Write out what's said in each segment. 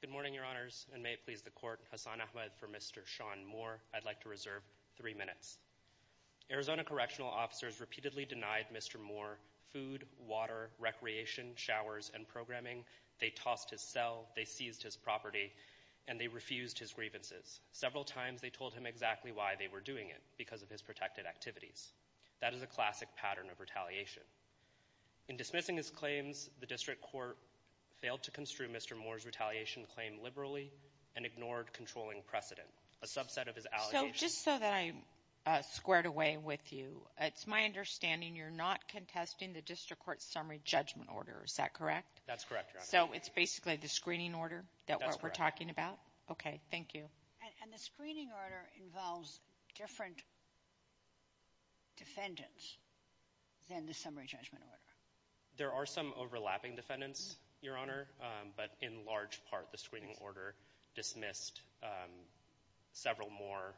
Good morning, Your Honors, and may it please the Court, Hasan Ahmed for Mr. Sean Moore, I'd like to reserve three minutes. Arizona correctional officers repeatedly denied Mr. Moore food, water, recreation, showers, and programming. They tossed his cell, they seized his property, and they refused his grievances. Several times they told him exactly why they were doing it, because of his protected activities. That is a classic pattern of retaliation. In dismissing his claims, the district court failed to construe Mr. Moore's retaliation claim liberally and ignored controlling precedent, a subset of his allegations. So just so that I squared away with you, it's my understanding you're not contesting the district court's summary judgment order. Is that correct? That's correct, Your Honor. So it's basically the screening order that we're talking about? Okay, thank you. And the screening order involves different defendants than the summary judgment order? There are some overlapping defendants, Your Honor, but in large part the screening order dismissed several more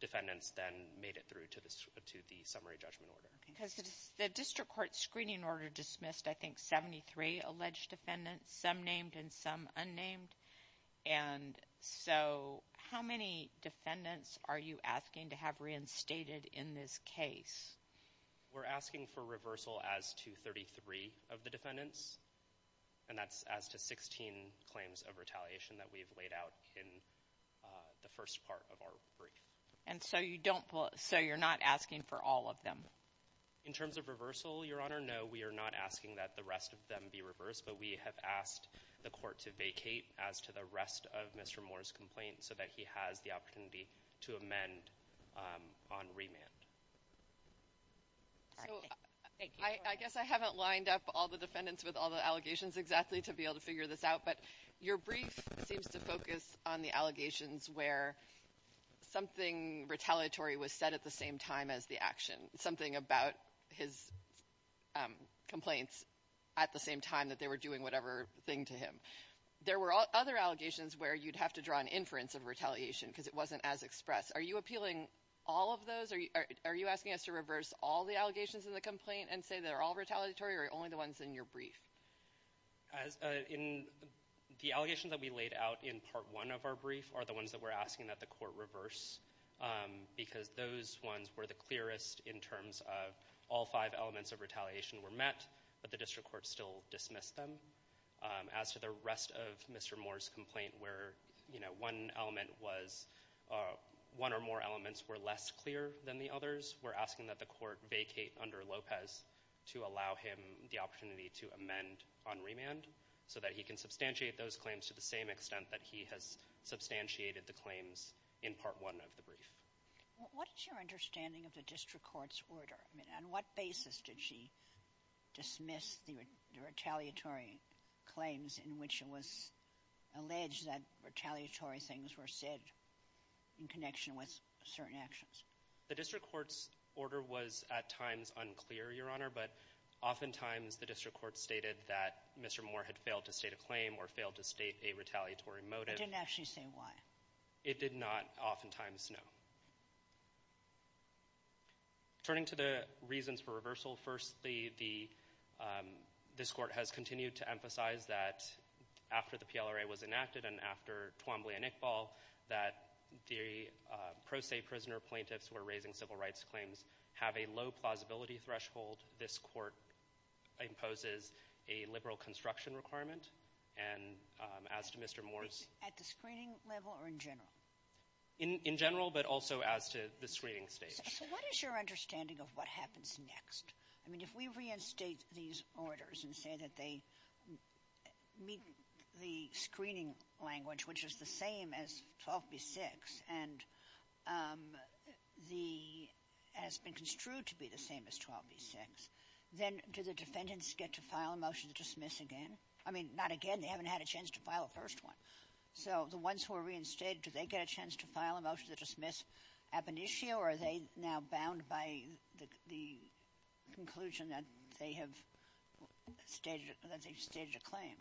defendants than made it through to the summary judgment order. Because the district court screening order dismissed, I think, 73 alleged defendants, some named and some unnamed. And so how many defendants are you asking to have reinstated in this case? We're asking for reversal as to 33 of the defendants, and that's as to 16 claims of retaliation that we've laid out in the first part of our brief. And so you're not asking for all of them? In terms of reversal, Your Honor, no, we are not asking that the rest of them be reversed, but we have asked the court to vacate as to the rest of Mr. Moore's complaint so that he has the opportunity to amend on remand. So I guess I haven't lined up all the defendants with all the allegations exactly to be able to figure this out, but your brief seems to focus on the allegations where something retaliatory was said at the same time as the action, something about his complaints at the same time that they were doing whatever thing to him. There were other allegations where you'd have to draw an inference of retaliation because it wasn't as expressed. Are you appealing all of those? Are you asking us to reverse all the allegations in the complaint and say they're all retaliatory or only the ones in your brief? The allegations that we laid out in part one of our brief are the ones that we're asking that the court reverse because those ones were the clearest in terms of all five elements of retaliation were met, but the district court still dismissed them. As to the rest of Mr. Moore's complaint where, you know, one element was one or more elements were less clear than the others, we're asking that the court vacate under Lopez to allow him the opportunity to amend on remand so that he can substantiate those claims to the same extent that he has substantiated the claims in part one of the brief. What is your understanding of the district court's order? I mean, on what basis did she dismiss the retaliatory claims in which it was alleged that retaliatory things were said in connection with certain actions? The district court's order was at times unclear, Your Honor, but oftentimes the district court stated that Mr. Moore had failed to state a claim or failed to state a retaliatory motive. It didn't actually say why. It did not oftentimes know. Turning to the reasons for reversal, firstly, this court has continued to emphasize that after the PLRA was enacted and after Twombly and Iqbal that the pro se prisoner plaintiffs were raising civil rights claims have a low plausibility threshold. This court imposes a liberal construction requirement, and as to Mr. Moore's— In general, but also as to the screening stage. So what is your understanding of what happens next? I mean, if we reinstate these orders and say that they meet the screening language, which is the same as 12b-6 and the — has been construed to be the same as 12b-6, then do the defendants get to file a motion to dismiss again? I mean, not again. They haven't had a chance to file a first one. So the ones who are reinstated, do they get a chance to file a motion to dismiss ab initio, or are they now bound by the conclusion that they have stated a claim?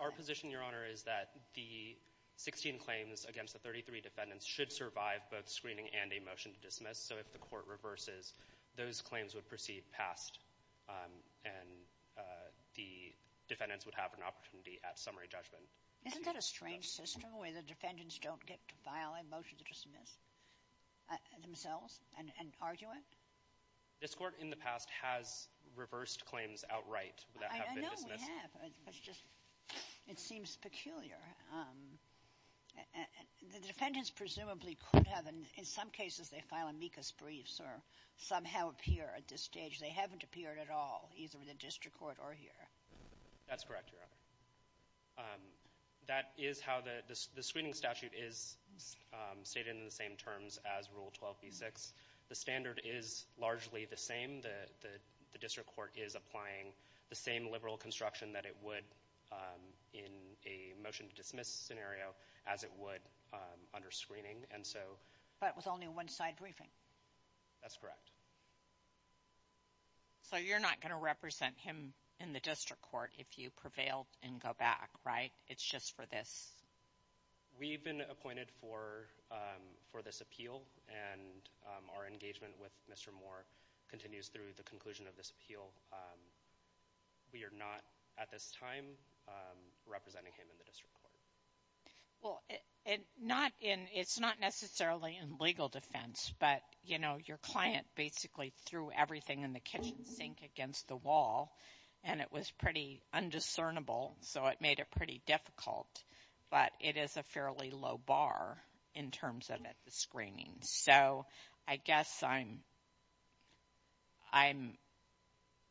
Our position, Your Honor, is that the 16 claims against the 33 defendants should survive both screening and a motion to dismiss. So if the court reverses, those claims would proceed past, and the defendants would have an opportunity at summary judgment. Isn't that a strange system, where the defendants don't get to file a motion to dismiss themselves and argue it? This Court in the past has reversed claims outright that have been dismissed. I know we have. It's just — it seems peculiar. The defendants presumably could have — in some cases, they file amicus briefs or somehow appear at this stage. They haven't appeared at all, either in the district court or here. That's correct, Your Honor. That is how the screening statute is stated in the same terms as Rule 12b-6. The standard is largely the same. The district court is applying the same liberal construction that it would in a motion to dismiss scenario as it would under screening. But with only one side briefing. That's correct. So you're not going to represent him in the district court if you prevail and go back, right? It's just for this? We've been appointed for this appeal, and our engagement with Mr. Moore continues through the conclusion of this appeal. We are not, at this time, representing him in the district court. Well, it's not necessarily in legal defense, but, you know, your client basically threw everything in the kitchen sink against the wall, and it was pretty undiscernable, so it made it pretty difficult. But it is a fairly low bar in terms of the screening. So I guess I'm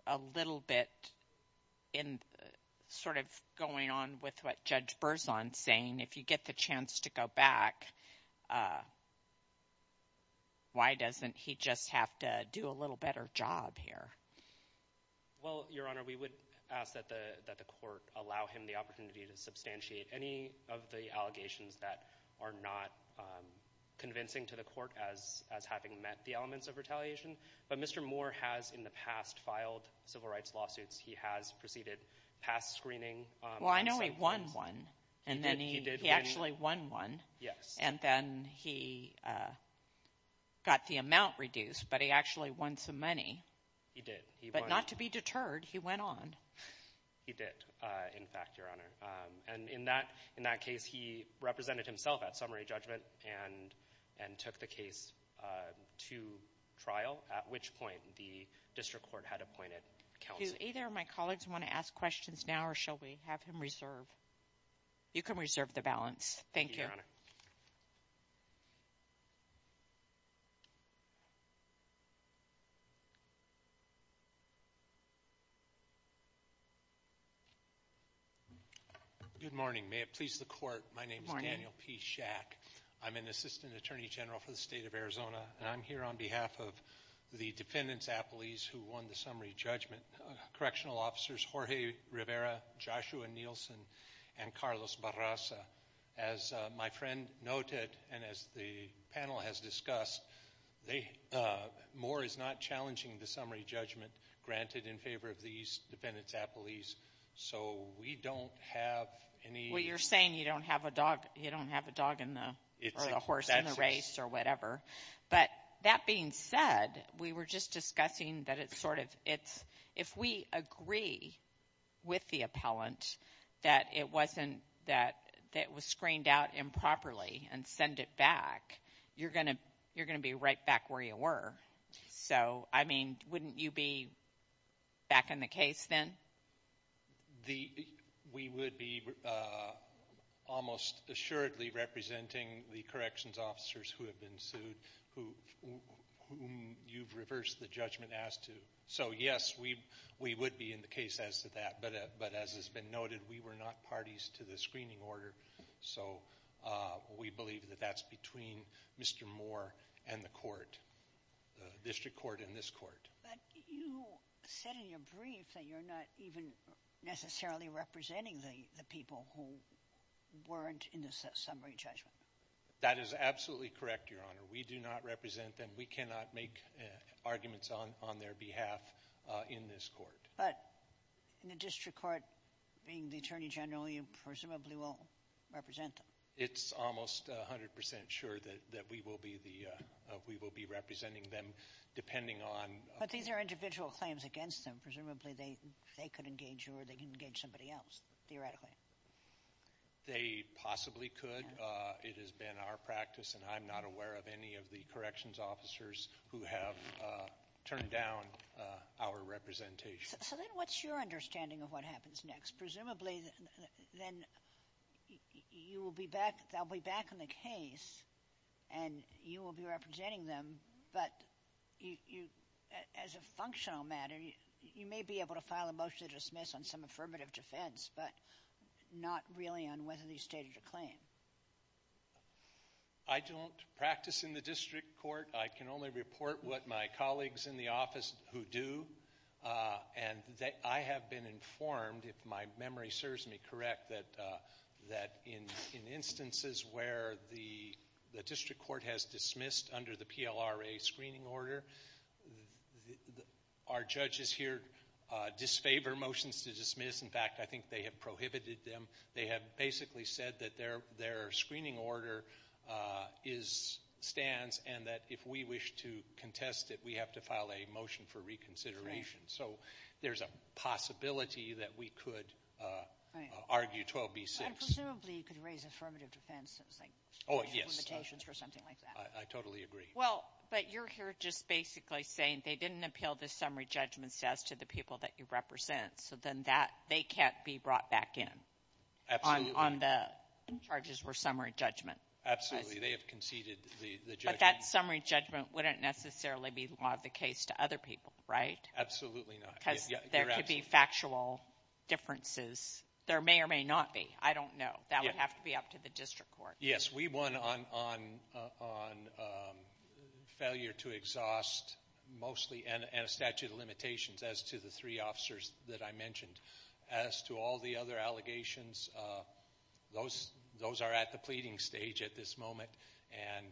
a little bit sort of going on with what Judge Berzon is saying. If you get the chance to go back, why doesn't he just have to do a little better job here? Well, Your Honor, we would ask that the court allow him the opportunity to substantiate any of the allegations that are not convincing to the court as having met the elements of retaliation. But Mr. Moore has in the past filed civil rights lawsuits. He has proceeded past screening. Well, I know he won one, and then he actually won one. Yes. And then he got the amount reduced, but he actually won some money. He did. But not to be deterred, he went on. He did, in fact, Your Honor. And in that case, he represented himself at summary judgment and took the case to trial, at which point the district court had appointed counsel. Do either of my colleagues want to ask questions now, or shall we have him reserve? You can reserve the balance. Thank you. Good morning. May it please the court, my name is Daniel P. Schack. I'm an assistant attorney general for the state of Arizona, and I'm here on behalf of the defendants' appellees who won the summary judgment, correctional officers Jorge Rivera, Joshua Nielsen, and Carlos Barrasa. As my friend noted, and as the panel has discussed, Moore is not challenging the summary judgment granted in favor of these defendants' appellees, so we don't have any. Well, you're saying you don't have a dog or a horse in the race or whatever. But that being said, we were just discussing that it's sort of, if we agree with the appellant that it was screened out improperly and send it back, you're going to be right back where you were. So, I mean, wouldn't you be back in the case then? We would be almost assuredly representing the corrections officers who have been sued, whom you've reversed the judgment as to. So, yes, we would be in the case as to that. But as has been noted, we were not parties to the screening order, so we believe that that's between Mr. Moore and the court, the district court and this court. But you said in your brief that you're not even necessarily representing the people who weren't in the summary judgment. That is absolutely correct, Your Honor. We do not represent them. We cannot make arguments on their behalf in this court. But in the district court, being the attorney general, you presumably will represent them. It's almost 100 percent sure that we will be representing them, depending on... But these are individual claims against them. Presumably they could engage you or they could engage somebody else, theoretically. They possibly could. It has been our practice, and I'm not aware of any of the corrections officers who have turned down our representation. So then what's your understanding of what happens next? Presumably then you will be back... They'll be back in the case, and you will be representing them. But as a functional matter, you may be able to file a motion to dismiss on some affirmative defense, but not really on whether they stated a claim. I don't practice in the district court. I can only report what my colleagues in the office who do. And I have been informed, if my memory serves me correct, that in instances where the district court has dismissed under the PLRA screening order, our judges here disfavor motions to dismiss. In fact, I think they have prohibited them. They have basically said that their screening order stands and that if we wish to contest it, we have to file a motion for reconsideration. So there's a possibility that we could argue 12B-6. And presumably you could raise affirmative defense. Oh, yes. I totally agree. Well, but you're here just basically saying they didn't appeal the summary judgments as to the people that you represent. So then they can't be brought back in on the charges for summary judgment. They have conceded the judgment. But that summary judgment wouldn't necessarily be the law of the case to other people, right? Absolutely not. Because there could be factual differences. There may or may not be. I don't know. That would have to be up to the district court. Yes, we won on failure to exhaust mostly and a statute of limitations as to the three officers that I mentioned. As to all the other allegations, those are at the pleading stage at this moment and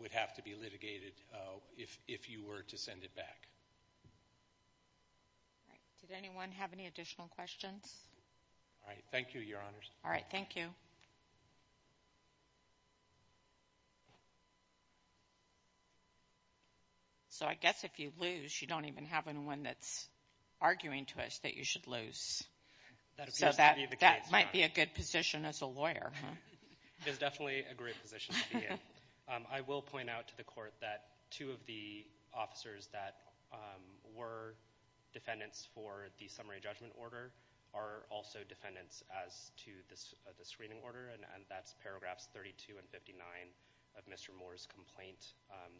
would have to be litigated if you were to send it back. All right. Did anyone have any additional questions? All right. Thank you, Your Honors. All right. Thank you. So I guess if you lose, you don't even have anyone that's arguing to us that you should lose. So that might be a good position as a lawyer. It's definitely a great position to be in. I will point out to the court that two of the officers that were defendants for the summary judgment order are also defendants as to the screening order, and that's paragraphs 32 and 59 of Mr. Moore's complaint.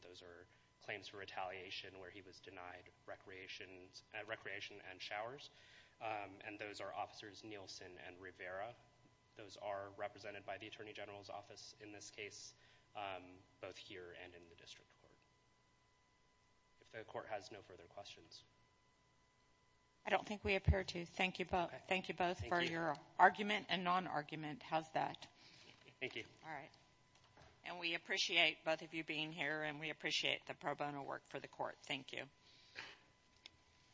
Those are claims for retaliation where he was denied recreation and showers, and those are Officers Nielsen and Rivera. Those are represented by the Attorney General's Office in this case, both here and in the district court. If the court has no further questions. I don't think we appear to. Thank you both for your argument and non-argument. How's that? Thank you. All right. And we appreciate both of you being here, and we appreciate the pro bono work for the court. Thank you.